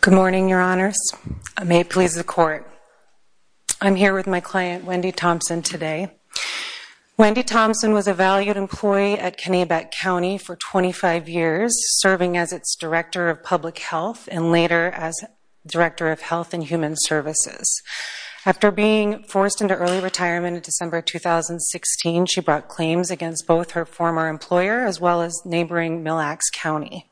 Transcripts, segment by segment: Good morning, your honors. I may please the court. I'm here with my client, Wendy Thompson, today. Wendy Thompson was a valued employee at Kanabec County for 25 years, serving as its Director of Public Health and later as Director of Health and Human Services. After being forced into early retirement in December 2016, she brought claims against both her former employer as well as neighboring Mille Lacs County.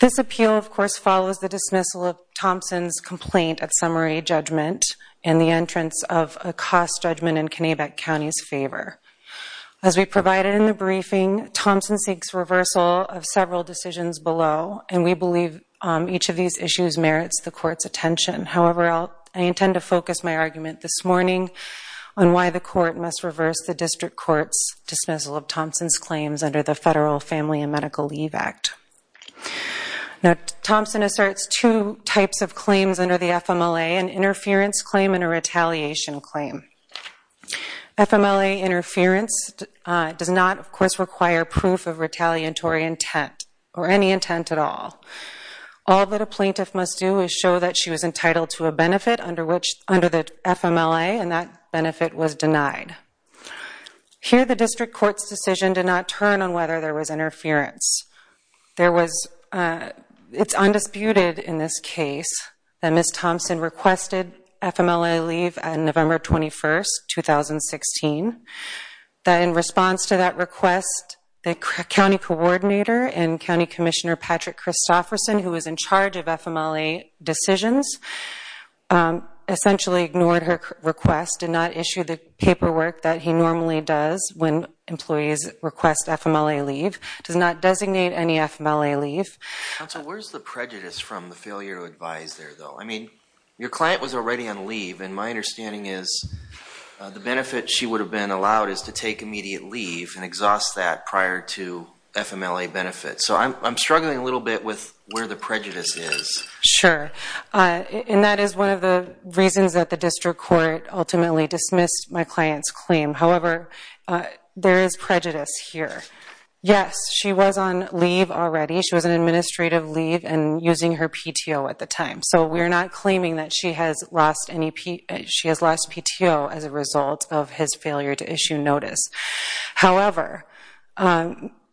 This appeal, of course, follows the dismissal of Thompson's complaint at summary judgment and the entrance of a cost judgment in Kanabec County's favor. As we provided in the briefing, Thompson seeks reversal of several decisions below, and we believe each of these issues merits the court's attention. However, I intend to focus my argument this morning on why the court must reverse the claims under the Federal Family and Medical Leave Act. Thompson asserts two types of claims under the FMLA, an interference claim and a retaliation claim. FMLA interference does not, of course, require proof of retaliatory intent or any intent at all. All that a plaintiff must do is show that she was entitled to a benefit under the FMLA, and that benefit was not turned on whether there was interference. It's undisputed in this case that Ms. Thompson requested FMLA leave on November 21, 2016. In response to that request, the county coordinator and County Commissioner Patrick Christofferson, who was in charge of FMLA decisions, essentially ignored her request, did not issue the paperwork that he normally does when employees request FMLA leave, does not designate any FMLA leave. Counsel, where's the prejudice from the failure to advise there, though? I mean, your client was already on leave, and my understanding is the benefit she would have been allowed is to take immediate leave and exhaust that prior to FMLA benefit. So I'm struggling a little bit with where the prejudice is. Sure. And that is one of the reasons that the district court ultimately dismissed my client's claim. However, there is prejudice here. Yes, she was on leave already. She was on administrative leave and using her PTO at the time. So we're not claiming that she has lost any PTO as a result of his failure to issue notice. However,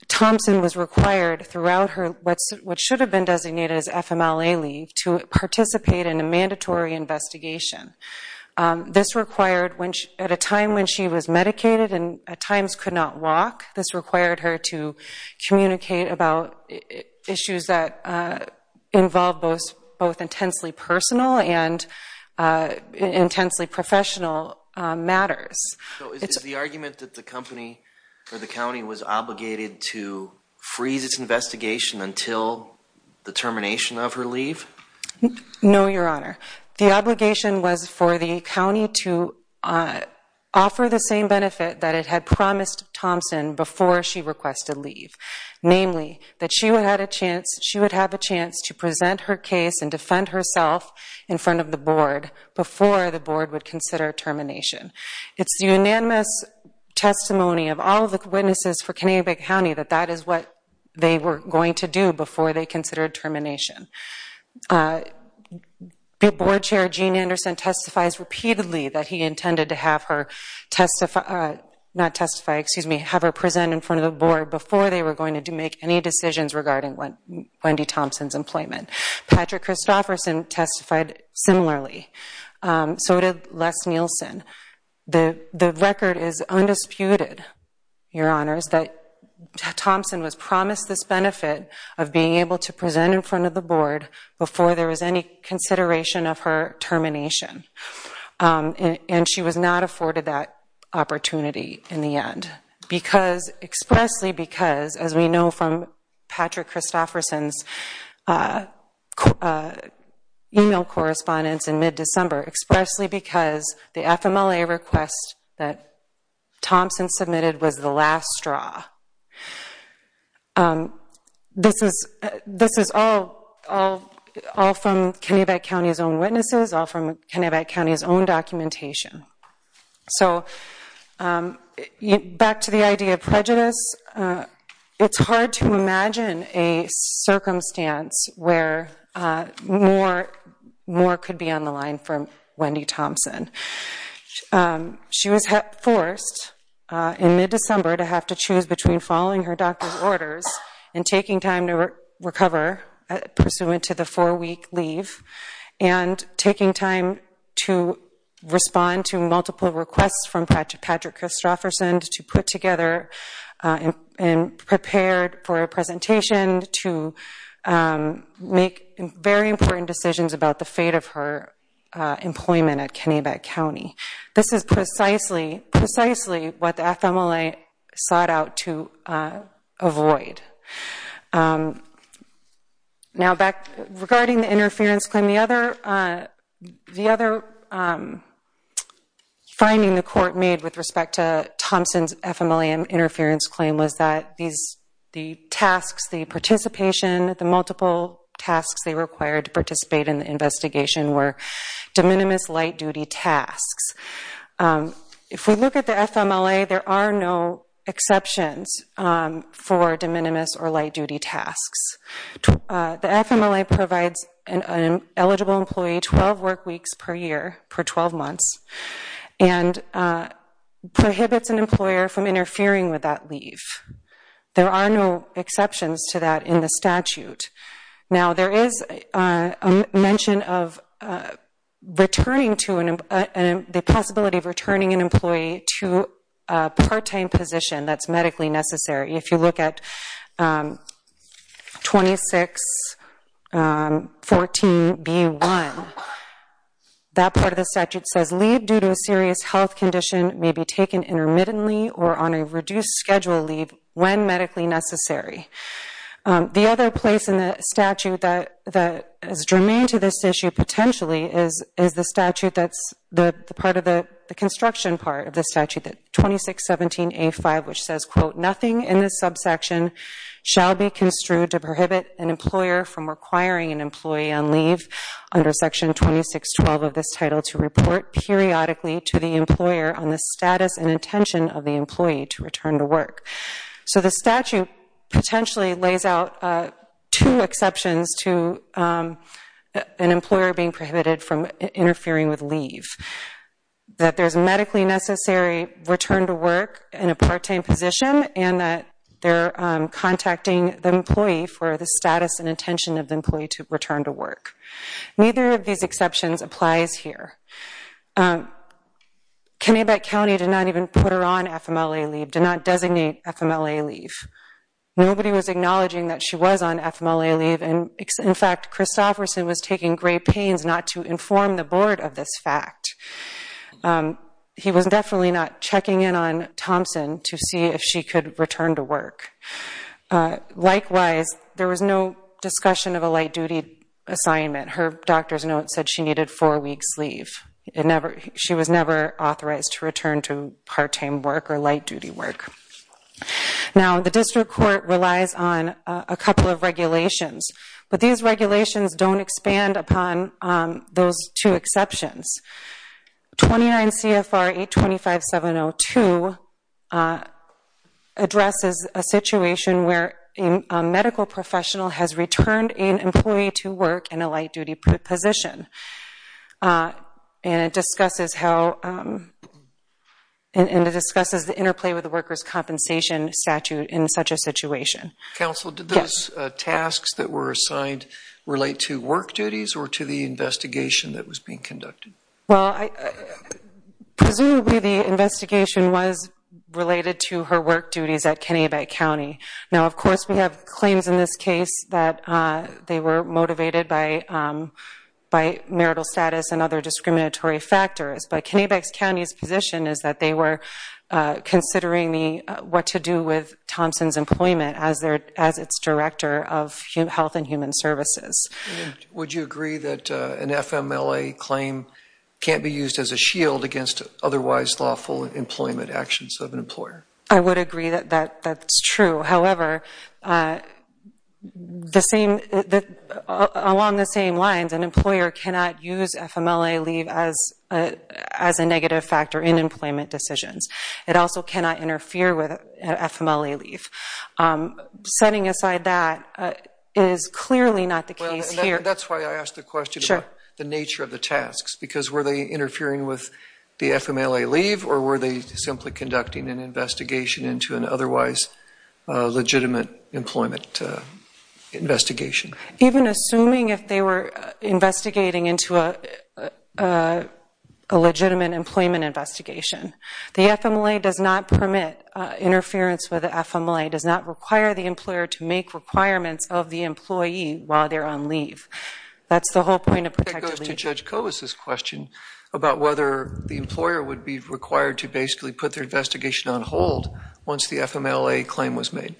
Thompson was required throughout what should have been designated as FMLA leave to participate in a mandatory investigation. This required, at a time when she was medicated and at times could not walk, this required her to communicate about issues that involve both intensely personal and intensely professional matters. So is the argument that the company or the county was obligated to freeze its investigation until the termination of her leave? No, Your Honor. The obligation was for the county to offer the same benefit that it had promised Thompson before she requested leave. Namely, that she would have a chance to present her case and defend herself in front of the board before the board would consider termination. It's the unanimous testimony of all of the witnesses for Connecticut County that that is what they were going to do before they considered termination. The board chair, Gene Anderson, testifies repeatedly that he intended to have her present in front of the board before they were going to make any decisions regarding Wendy Thompson's employment. Patrick Christofferson testified similarly. So did Les Nielsen. The record is undisputed, Your Honor, is that Thompson was promised this benefit of being able to present in front of the board before there was any consideration of her termination. And she was not afforded that opportunity in the end, expressly because, as we know from Patrick Christofferson's email correspondence in mid-December, expressly because the FMLA request that Thompson submitted was the last straw. This is all from Connecticut County's own witnesses, all from Connecticut County's own documentation. So back to the idea of prejudice, it's hard to imagine a circumstance where more could be on the line from Wendy Thompson. She was forced in mid-December to have to choose between following her doctor's orders and taking time to recover pursuant to the four-week leave and taking time to respond to multiple requests from Patrick Christofferson to put together and prepared for a presentation to make very important decisions about the fate of her employment at Kennebec County. This is precisely, precisely what the FMLA sought out to avoid. Now, regarding the interference claim, the other finding the court made with respect to Thompson's FMLA interference claim was that the tasks, the participation, the multiple tasks they required to participate in the investigation were de minimis light-duty tasks. If we look at the FMLA, there are no exceptions for de minimis or light-duty tasks. The FMLA provides an eligible employee 12 work weeks per year per 12 months and prohibits an employer from interfering with that leave. There are no exceptions to that in the statute. Now, there is a mention of returning to an, the possibility of returning an employee to a part-time position that's medically necessary. If you look at 2614b1, that part of the statute says leave due to a serious health condition may be taken intermittently or on a reduced schedule leave when medically necessary. The other place in the statute that, that is germane to this issue potentially is, is the statute that's the part of the, the construction part of the statute that 2617a5, which says, quote, nothing in this subsection shall be construed to prohibit an employer from requiring an employee on leave under section 2612 of this title to report periodically to the employer on the status and intention of the employee to return to work. So the statute potentially lays out two exceptions to an employer being prohibited from interfering with leave. That there's medically necessary return to work in a part-time position and that they're contacting the employee for the status and intention of the employee to return to work. Neither of these exceptions applies here. Kennebec County did not even put her on FMLA leave, did not designate FMLA leave. Nobody was acknowledging that she was on FMLA leave and in fact, Chris Sofferson was taking great pains not to inform the board of this fact. He was definitely not checking in on Thompson to see if she could return to work. Likewise, there was no discussion of a light-duty assignment. Her doctor's note said she needed four weeks leave. It never, she was never authorized to return to part-time work or light-duty work. Now the district court relies on a couple of regulations, but these regulations don't expand upon those two exceptions. 29 CFR 825702 addresses a situation where a medical professional has returned an employee to work in a light-duty position. And it discusses how, and it discusses the interplay with the worker's compensation statute in such a situation. Counsel, did those tasks that were assigned relate to work duties or to the investigation that was being conducted? Well, presumably the investigation was related to her work duties at Kennebec County. Now of course we have claims in this case that they were motivated by marital status and other discriminatory factors, but Kennebec County's position is that they were considering what to do with Thompson's employment as its Director of Health and Human Services. Would you agree that an FMLA claim can't be used as a shield against otherwise lawful employment actions of an employer? I would agree that that's true. However, the same, along the same lines, an employer cannot use FMLA leave as a negative factor in That's why I asked the question about the nature of the tasks, because were they interfering with the FMLA leave or were they simply conducting an investigation into an otherwise legitimate employment investigation? Even assuming if they were investigating into a legitimate employment investigation. The FMLA does not permit interference with the require the employer to make requirements of the employee while they're on leave. That's the whole point of protective leave. That goes to Judge Kovas' question about whether the employer would be required to basically put their investigation on hold once the FMLA claim was made.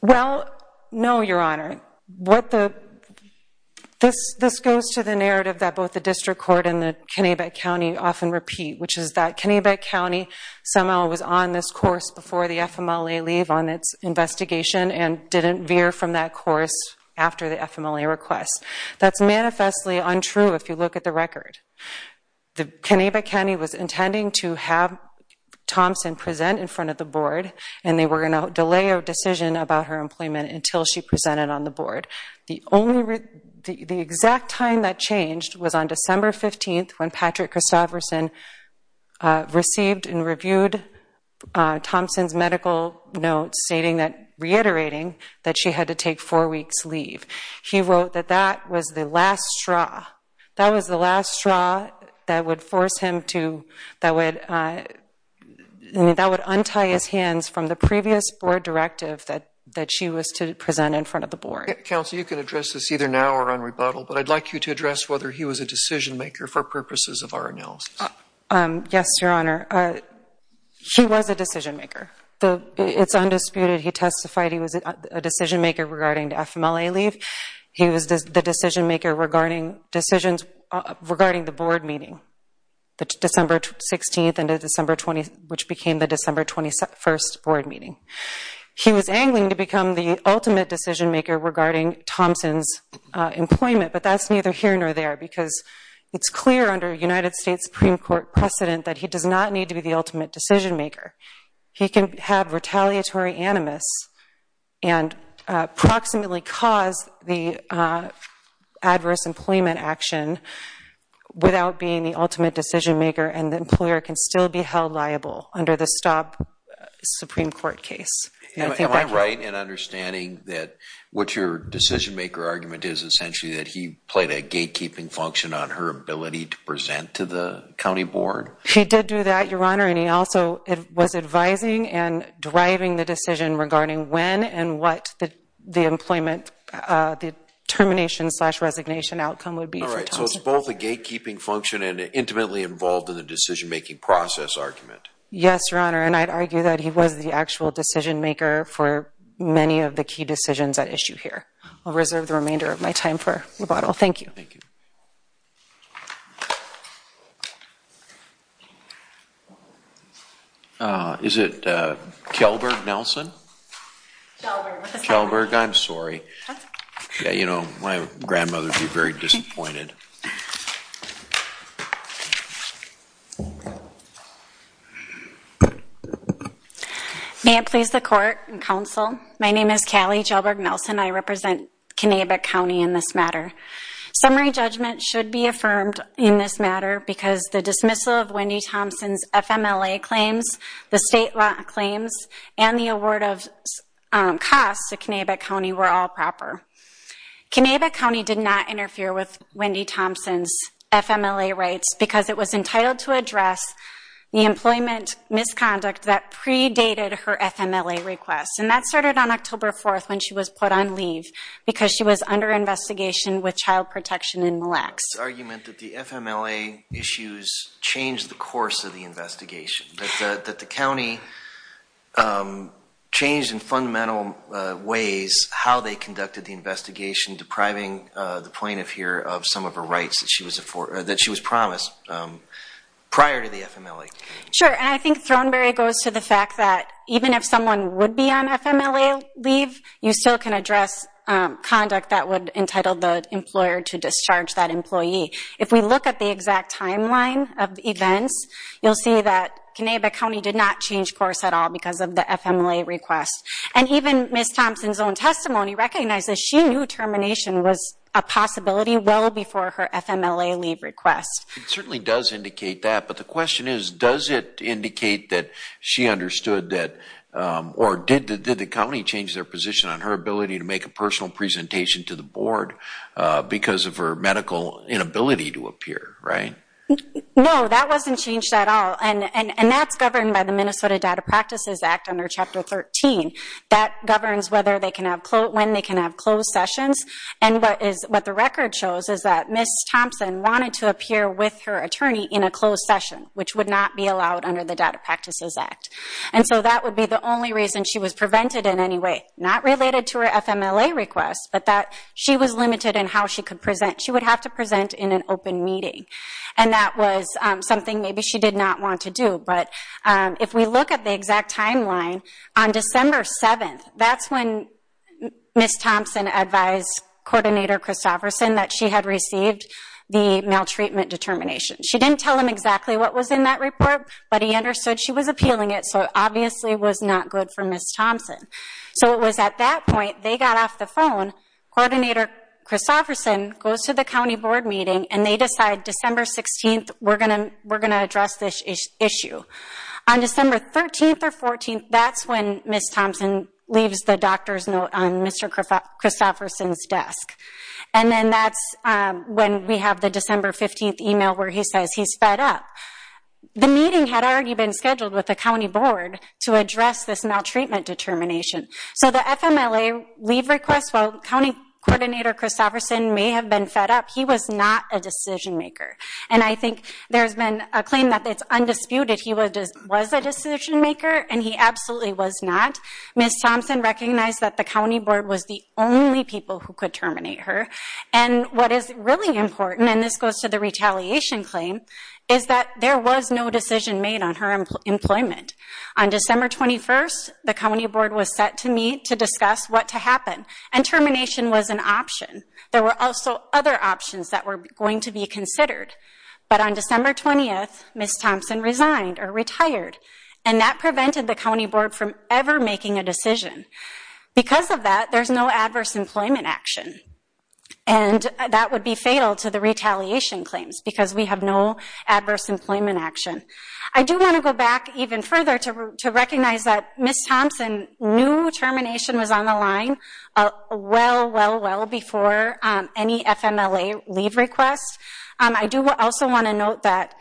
Well, no, Your Honor. This goes to the narrative that both the District Court and the Kennebec County often repeat, which is that the employer was on this course before the FMLA leave on its investigation and didn't veer from that course after the FMLA request. That's manifestly untrue if you look at the record. The Kennebec County was intending to have Thompson present in front of the board and they were going to delay a decision about her employment until she presented on the board. The exact time that changed was on December 15th when Patrick Christofferson received and reviewed Thompson's medical notes stating that, reiterating that she had to take four weeks leave. He wrote that that was the last straw. That was the last straw that would force him to, that would untie his hands from the previous board directive that she was to present in front of the board. Counsel, you can address this either now or on rebuttal, but I'd like you to address whether he was a decision-maker for purposes of our analysis. Yes, Your Honor. He was a decision-maker. It's undisputed. He testified he was a decision-maker regarding the FMLA leave. He was the decision-maker regarding decisions regarding the board meeting, December 16th into December 20th, which became the December 21st board meeting. He was angling to become the ultimate decision-maker regarding Thompson's employment, but that's neither here nor there because it's clear under United States Supreme Court precedent that he does not need to be the ultimate decision-maker. He can have retaliatory animus and proximately cause the adverse employment action without being the ultimate decision-maker and the employer can still be held liable under the stop Supreme Court case. Am I right in understanding that what your decision-maker argument is essentially that he played a gatekeeping function on her ability to present to the county board? He did do that, Your Honor, and he also was advising and driving the decision regarding when and what the employment, the termination-slash-resignation outcome would be for Thompson. So it's both a gatekeeping function and intimately involved in the decision-making process argument. Yes, Your Honor, and I'd argue that he was the actual decision-maker for many of the key decisions at issue here. I'll reserve the remainder of my time for rebuttal. Thank you. Thank you. Is it Kelberg Nelson? Kelberg. Kelberg, I'm sorry. Yeah, you know, my grandmother would be very disappointed. May it please the court and counsel, my name is Callie Kelberg Nelson. I represent Connecticut County in this matter. Summary judgment should be affirmed in this matter because the dismissal of Wendy Thompson's FMLA claims, the state law claims, and the award of costs to Connecticut County were all proper. Connecticut County did not interfere with Wendy Thompson's FMLA rights because it was entitled to address the employment misconduct that predated her FMLA request. And that started on October 4th when she was put on leave because she was under investigation with child protection in Mille Lacs. The FMLA issues changed the course of the investigation, that the county changed in fundamental ways how they conducted the investigation, depriving the plaintiff here of some of her rights that she was promised prior to the FMLA. Sure, and I think Thornberry goes to the fact that even if someone would be on FMLA leave, you still can address conduct that would entitle the employer to discharge that employee. If we look at the exact timeline of events, you'll see that Connecticut County did not change course at all because of the FMLA request. And even Ms. Thompson's own testimony recognizes she knew termination was a possibility well before her FMLA leave request. It certainly does indicate that, but the question is, does it indicate that she understood that, or did the county change their position on her ability to make a personal presentation to the board because of her medical inability to appear, right? No, that wasn't changed at all, and that's governed by the Minnesota Data Practices Act under Chapter 13. That governs when they can have closed sessions, and what the record shows is that Ms. Thompson wanted to appear with her attorney in a closed session, which would not be allowed under the Data Practices Act. And so that would be the only reason she was prevented in any way, not related to her FMLA request, but that she was limited in how she could present. She would have to present in an open meeting, and that was something maybe she did not want to do. But if we look at the exact timeline, on December 7th, that's when Ms. Thompson advised Coordinator Christofferson that she had received the maltreatment determination. She didn't tell him exactly what was in that report, but he understood she was appealing it, so it obviously was not good for Ms. Thompson. So it was at that point they got off the phone, Coordinator Christofferson goes to the county board meeting, and they decide December 16th we're going to address this issue. On December 13th or 14th, that's when Ms. Thompson leaves the doctor's note on Mr. Christofferson's desk. And then that's when we have the December 15th email where he says he's fed up. The meeting had already been scheduled with the county board to address this maltreatment determination. So the FMLA leave request, while County Coordinator Christofferson may have been fed up, he was not a decision maker. And I think there's been a claim that it's undisputed he was a decision maker, and he absolutely was not. Ms. Thompson recognized that the county board was the only people who could terminate her. And what is really important, and this goes to the retaliation claim, is that there was no decision made on her employment. On December 21st, the county board was set to meet to discuss what to happen. And termination was an option. There were also other options that were going to be considered. But on December 20th, Ms. Thompson resigned or retired. And that prevented the county board from ever making a decision. Because of that, there's no adverse employment action. And that would be fatal to the retaliation claims because we have no adverse employment action. I do want to go back even further to recognize that Ms. Thompson knew termination was on the line well, well, well before any FMLA leave request. I do also want to note that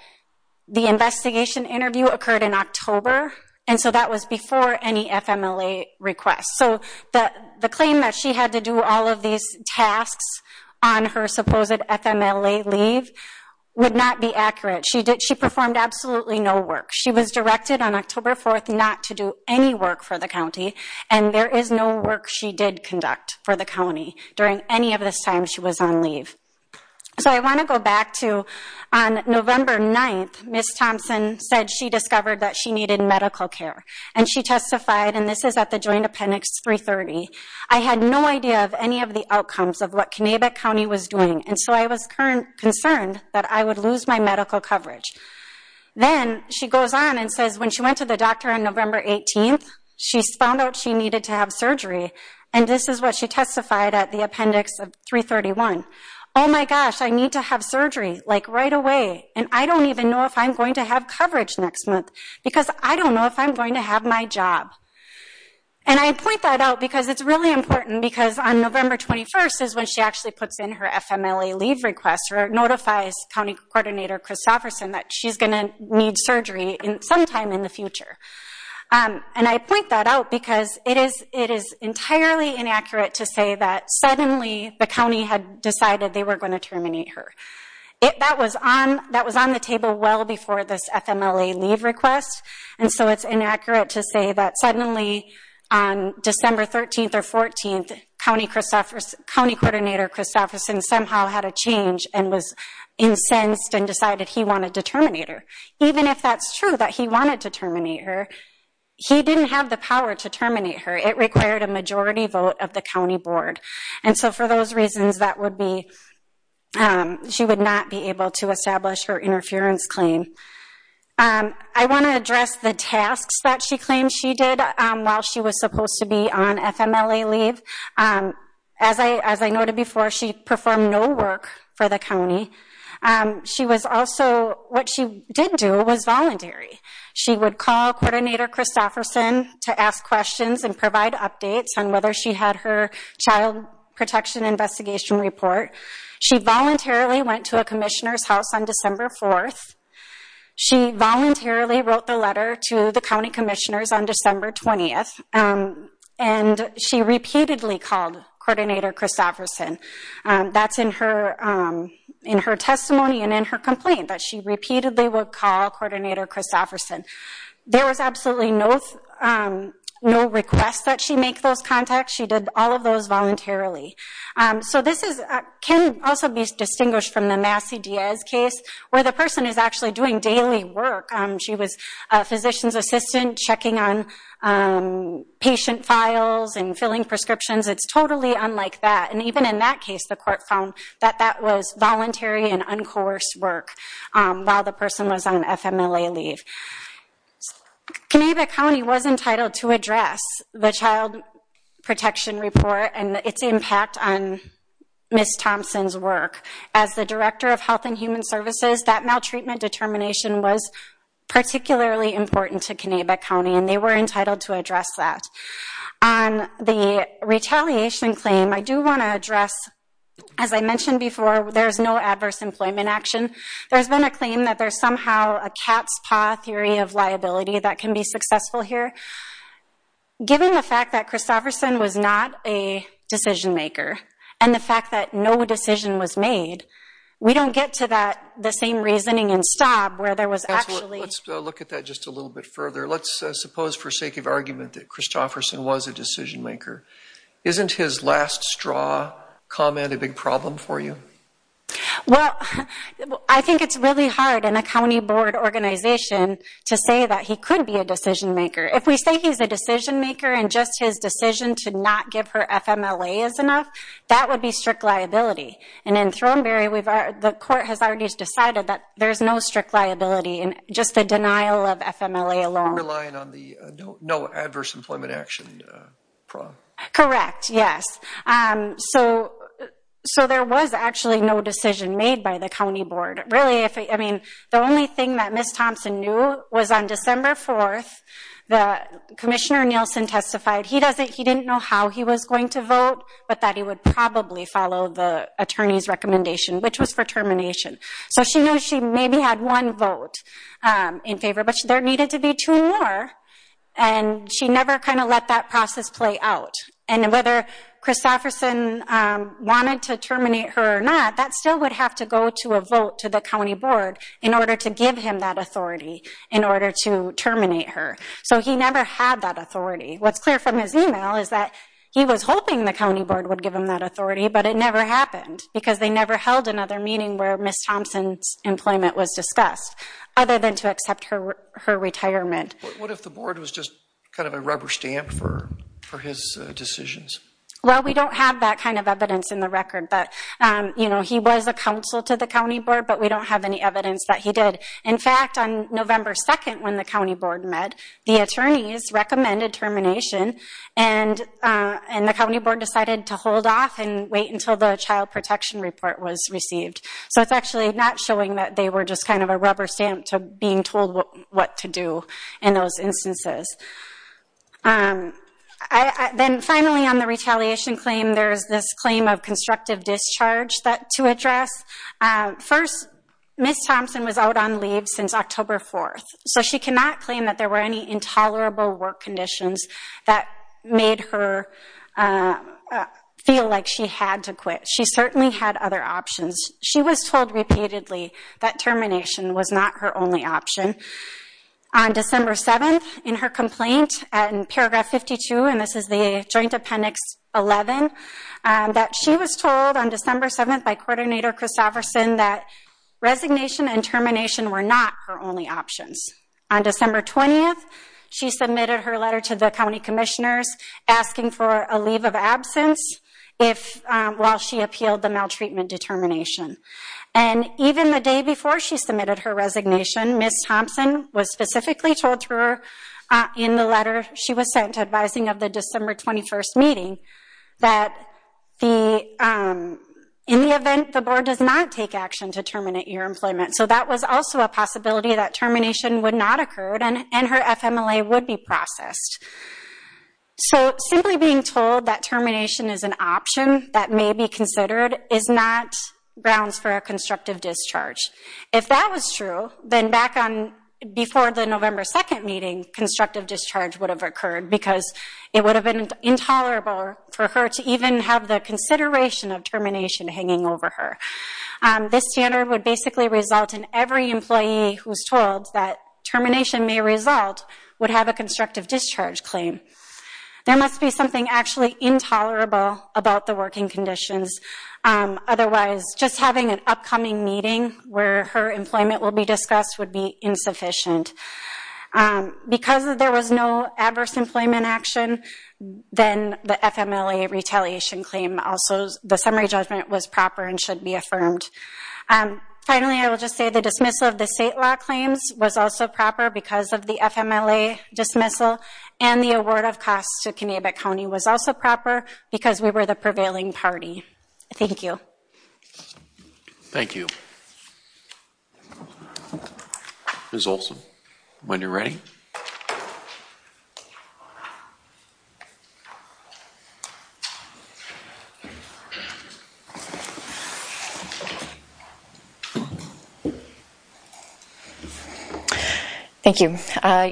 the investigation interview occurred in October. And so that was before any FMLA request. So the claim that she had to do all of these tasks on her supposed FMLA leave would not be accurate. She performed absolutely no work. She was directed on October 4th not to do any work for the county. And there is no work she did conduct for the county during any of this time she was on leave. So I want to go back to on November 9th, Ms. Thompson said she discovered that she needed medical care. And she testified, and this is at the joint appendix 330. I had no idea of any of the outcomes of what Kanabec County was doing. And so I was concerned that I would lose my medical coverage. Then she goes on and says when she went to the doctor on November 18th, she found out she needed to have surgery. And this is what she testified at the appendix 331. Oh my gosh, I need to have surgery, like right away. And I don't even know if I'm going to have coverage next month because I don't know if I'm going to have my job. And I point that out because it's really important because on November 21st is when she actually puts in her FMLA leave request or notifies county coordinator Chris Sofferson that she's going to need surgery sometime in the future. And I point that out because it is entirely inaccurate to say that suddenly the county had decided they were going to terminate her. That was on the table well before this FMLA leave request. And so it's inaccurate to say that suddenly on December 13th or 14th, county coordinator Chris Sofferson somehow had a change and was incensed and decided he wanted to terminate her. Even if that's true that he wanted to terminate her, he didn't have the power to terminate her. It required a majority vote of the county board. And so for those reasons, that would be, she would not be able to establish her interference claim. I want to address the tasks that she claimed she did while she was supposed to be on FMLA leave. As I noted before, she performed no work for the county. She was also, what she did do was voluntary. She would call coordinator Chris Sofferson to ask questions and provide updates on whether she had her child protection investigation report. She voluntarily went to a commissioner's house on December 4th. She voluntarily wrote the letter to the county commissioners on December 20th. And she repeatedly called coordinator Chris Sofferson. That's in her testimony and in her complaint that she repeatedly would call coordinator Chris Sofferson. There was absolutely no request that she make those contacts. She did all of those voluntarily. So this can also be distinguished from the Massey-Diaz case where the person is actually doing daily work. She was a physician's assistant checking on patient files and filling prescriptions. It's totally unlike that. And even in that case, the court found that that was voluntary and uncoerced work while the person was on FMLA leave. Kanabec County was entitled to address the child protection report and its impact on Ms. Thompson's work. As the director of Health and Human Services, that maltreatment determination was particularly important to Kanabec County. And they were entitled to address that. On the retaliation claim, I do want to address, as I mentioned before, there's no adverse employment action. There's been a claim that there's somehow a cat's paw theory of liability that can be successful here. Given the fact that Chris Sofferson was not a decision maker and the fact that no decision was made, we don't get to that the same reasoning in Staub where there was actually. Let's look at that just a little bit further. Let's suppose, for sake of argument, that Chris Sofferson was a decision maker. Isn't his last straw comment a big problem for you? Well, I think it's really hard in a county board organization to say that he could be a decision maker. If we say he's a decision maker and just his decision to not give her FMLA is enough, that would be strict liability. And in Thornberry, the court has already decided that there's no strict liability in just the denial of FMLA alone. You're relying on the no adverse employment action. Correct, yes. So there was actually no decision made by the county board. Really, I mean, the only thing that Ms. Thompson knew was on December 4th, Commissioner Nielsen testified he didn't know how he was going to vote, but that he would probably follow the attorney's recommendation, which was for termination. So she knew she maybe had one vote in favor, but there needed to be two more. And she never kind of let that process play out. And whether Chris Sofferson wanted to terminate her or not, that still would have to go to a vote to the county board in order to give him that authority in order to terminate her. So he never had that authority. What's clear from his email is that he was hoping the county board would give him that authority, but it never happened because they never held another meeting where Ms. Thompson's employment was discussed other than to accept her retirement. What if the board was just kind of a rubber stamp for his decisions? Well, we don't have that kind of evidence in the record. But, you know, he was a counsel to the county board, but we don't have any evidence that he did. In fact, on November 2nd when the county board met, the attorneys recommended termination, and the county board decided to hold off and wait until the child protection report was received. So it's actually not showing that they were just kind of a rubber stamp to being told what to do in those instances. Then finally on the retaliation claim, there's this claim of constructive discharge to address. First, Ms. Thompson was out on leave since October 4th, so she cannot claim that there were any intolerable work conditions that made her feel like she had to quit. She certainly had other options. She was told repeatedly that termination was not her only option. On December 7th in her complaint in paragraph 52, and this is the joint appendix 11, that she was told on December 7th by Coordinator Christofferson that resignation and termination were not her only options. On December 20th, she submitted her letter to the county commissioners asking for a leave of absence while she appealed the maltreatment determination. And even the day before she submitted her resignation, Ms. Thompson was specifically told through her in the letter she was sent advising of the December 21st meeting that in the event the board does not take action to terminate your employment, so that was also a possibility that termination would not occur and her FMLA would be processed. So simply being told that termination is an option that may be considered is not grounds for a constructive discharge. If that was true, then back on before the November 2nd meeting, constructive discharge would have occurred because it would have been intolerable for her to even have the consideration of termination hanging over her. This standard would basically result in every employee who's told that termination may result would have a constructive discharge claim. There must be something actually intolerable about the working conditions, otherwise just having an upcoming meeting where her employment will be discussed would be insufficient. Because there was no adverse employment action, then the FMLA retaliation claim, also the summary judgment was proper and should be affirmed. Finally, I will just say the dismissal of the state law claims was also proper because of the FMLA dismissal and the award of costs to Connecticut County was also proper because we were the prevailing party. Thank you. Thank you. Ms. Olson, when you're ready. Thank you.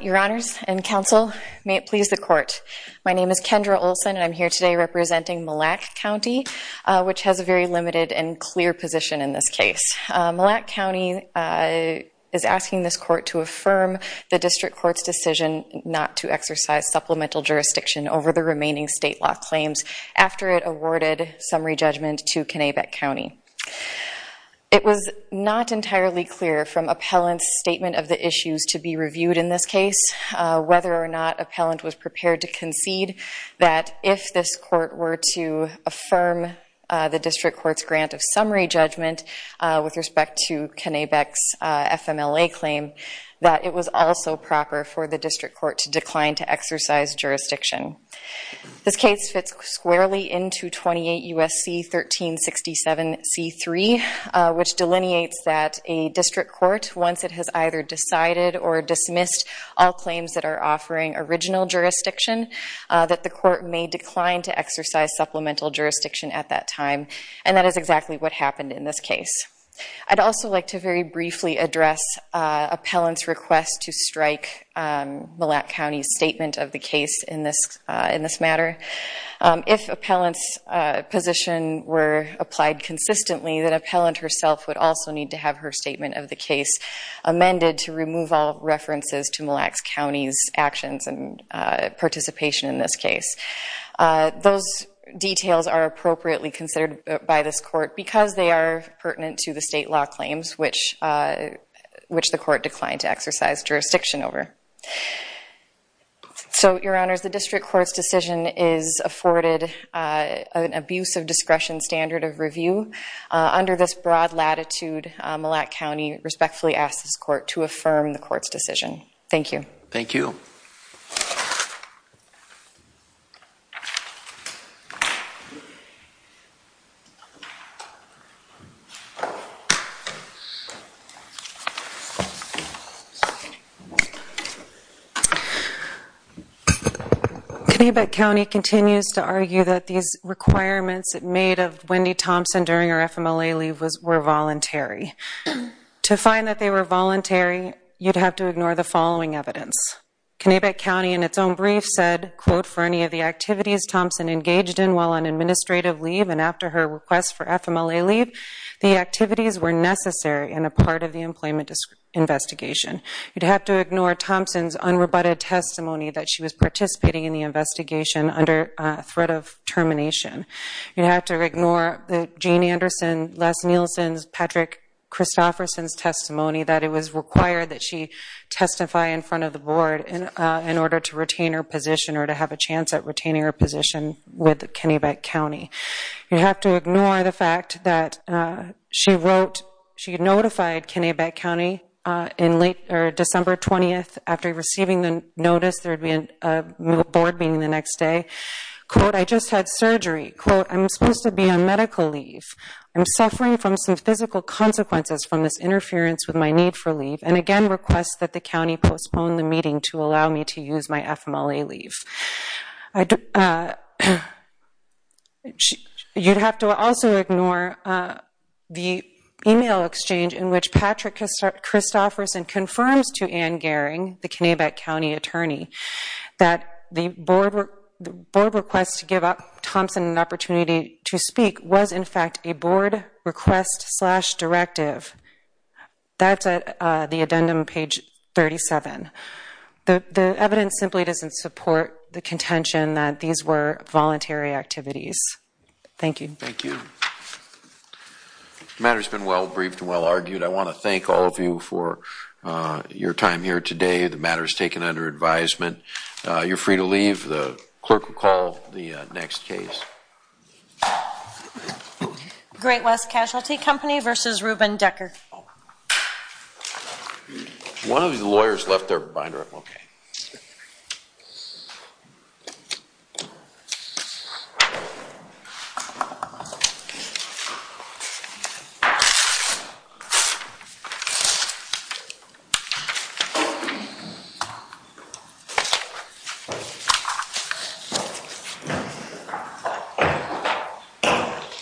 Your honors and counsel, may it please the court. My name is Kendra Olson and I'm here today representing Millac County, which has a very limited and clear position in this case. Millac County is asking this court to affirm the district court's decision not to exercise supplemental jurisdiction over the remaining state law claims after it awarded summary judgment to Connecticut County. It was not entirely clear from appellant's statement of the issues to be reviewed in this case whether or not appellant was prepared to concede that if this court were to affirm the district court's grant of summary judgment with respect to Kennebec's FMLA claim that it was also proper for the district court to decline to exercise jurisdiction. This case fits squarely into 28 U.S.C. 1367 C.3, which delineates that a district court, once it has either decided or dismissed all claims that are offering original jurisdiction, that the court may decline to exercise supplemental jurisdiction at that time, and that is exactly what happened in this case. I'd also like to very briefly address appellant's request to strike Millac County's statement of the case in this matter. If appellant's position were applied consistently, then appellant herself would also need to have her statement of the case amended to remove all references to Millac County's actions and participation in this case. Those details are appropriately considered by this court because they are pertinent to the state law claims, which the court declined to exercise jurisdiction over. So, Your Honors, the district court's decision is afforded an abuse of discretion standard of review. Under this broad latitude, Millac County respectfully asks this court to affirm the court's decision. Thank you. Thank you. Thank you. Kinnebet County continues to argue that these requirements made of Wendy Thompson during her FMLA leave were voluntary. To find that they were voluntary, you'd have to ignore the following evidence. Kinnebet County, in its own brief, said, quote, for any of the activities Thompson engaged in while on administrative leave and after her request for FMLA leave, the activities were necessary and a part of the employment investigation. You'd have to ignore Thompson's unrebutted testimony that she was participating in the investigation under threat of termination. You'd have to ignore Jean Anderson, Les Nielsen, Patrick Christofferson's testimony that it was required that she testify in front of the board in order to retain her position or to have a chance at retaining her position with Kinnebet County. You'd have to ignore the fact that she wrote, she notified Kinnebet County on December 20th after receiving the notice there would be a board meeting the next day. Quote, I just had surgery. Quote, I'm supposed to be on medical leave. I'm suffering from some physical consequences from this interference with my need for leave and again request that the county postpone the meeting to allow me to use my FMLA leave. You'd have to also ignore the email exchange in which Patrick Christofferson confirms to Ann Gehring, the Kinnebet County attorney, that the board request to give Thompson an opportunity to speak was in fact a board request slash directive. That's at the addendum page 37. The evidence simply doesn't support the contention that these were voluntary activities. Thank you. Thank you. The matter's been well-briefed and well-argued. I want to thank all of you for your time here today. The matter is taken under advisement. You're free to leave. The clerk will call the next case. Great West Casualty Company v. Ruben Decker. One of the lawyers left their binder. I'm okay. Thank you.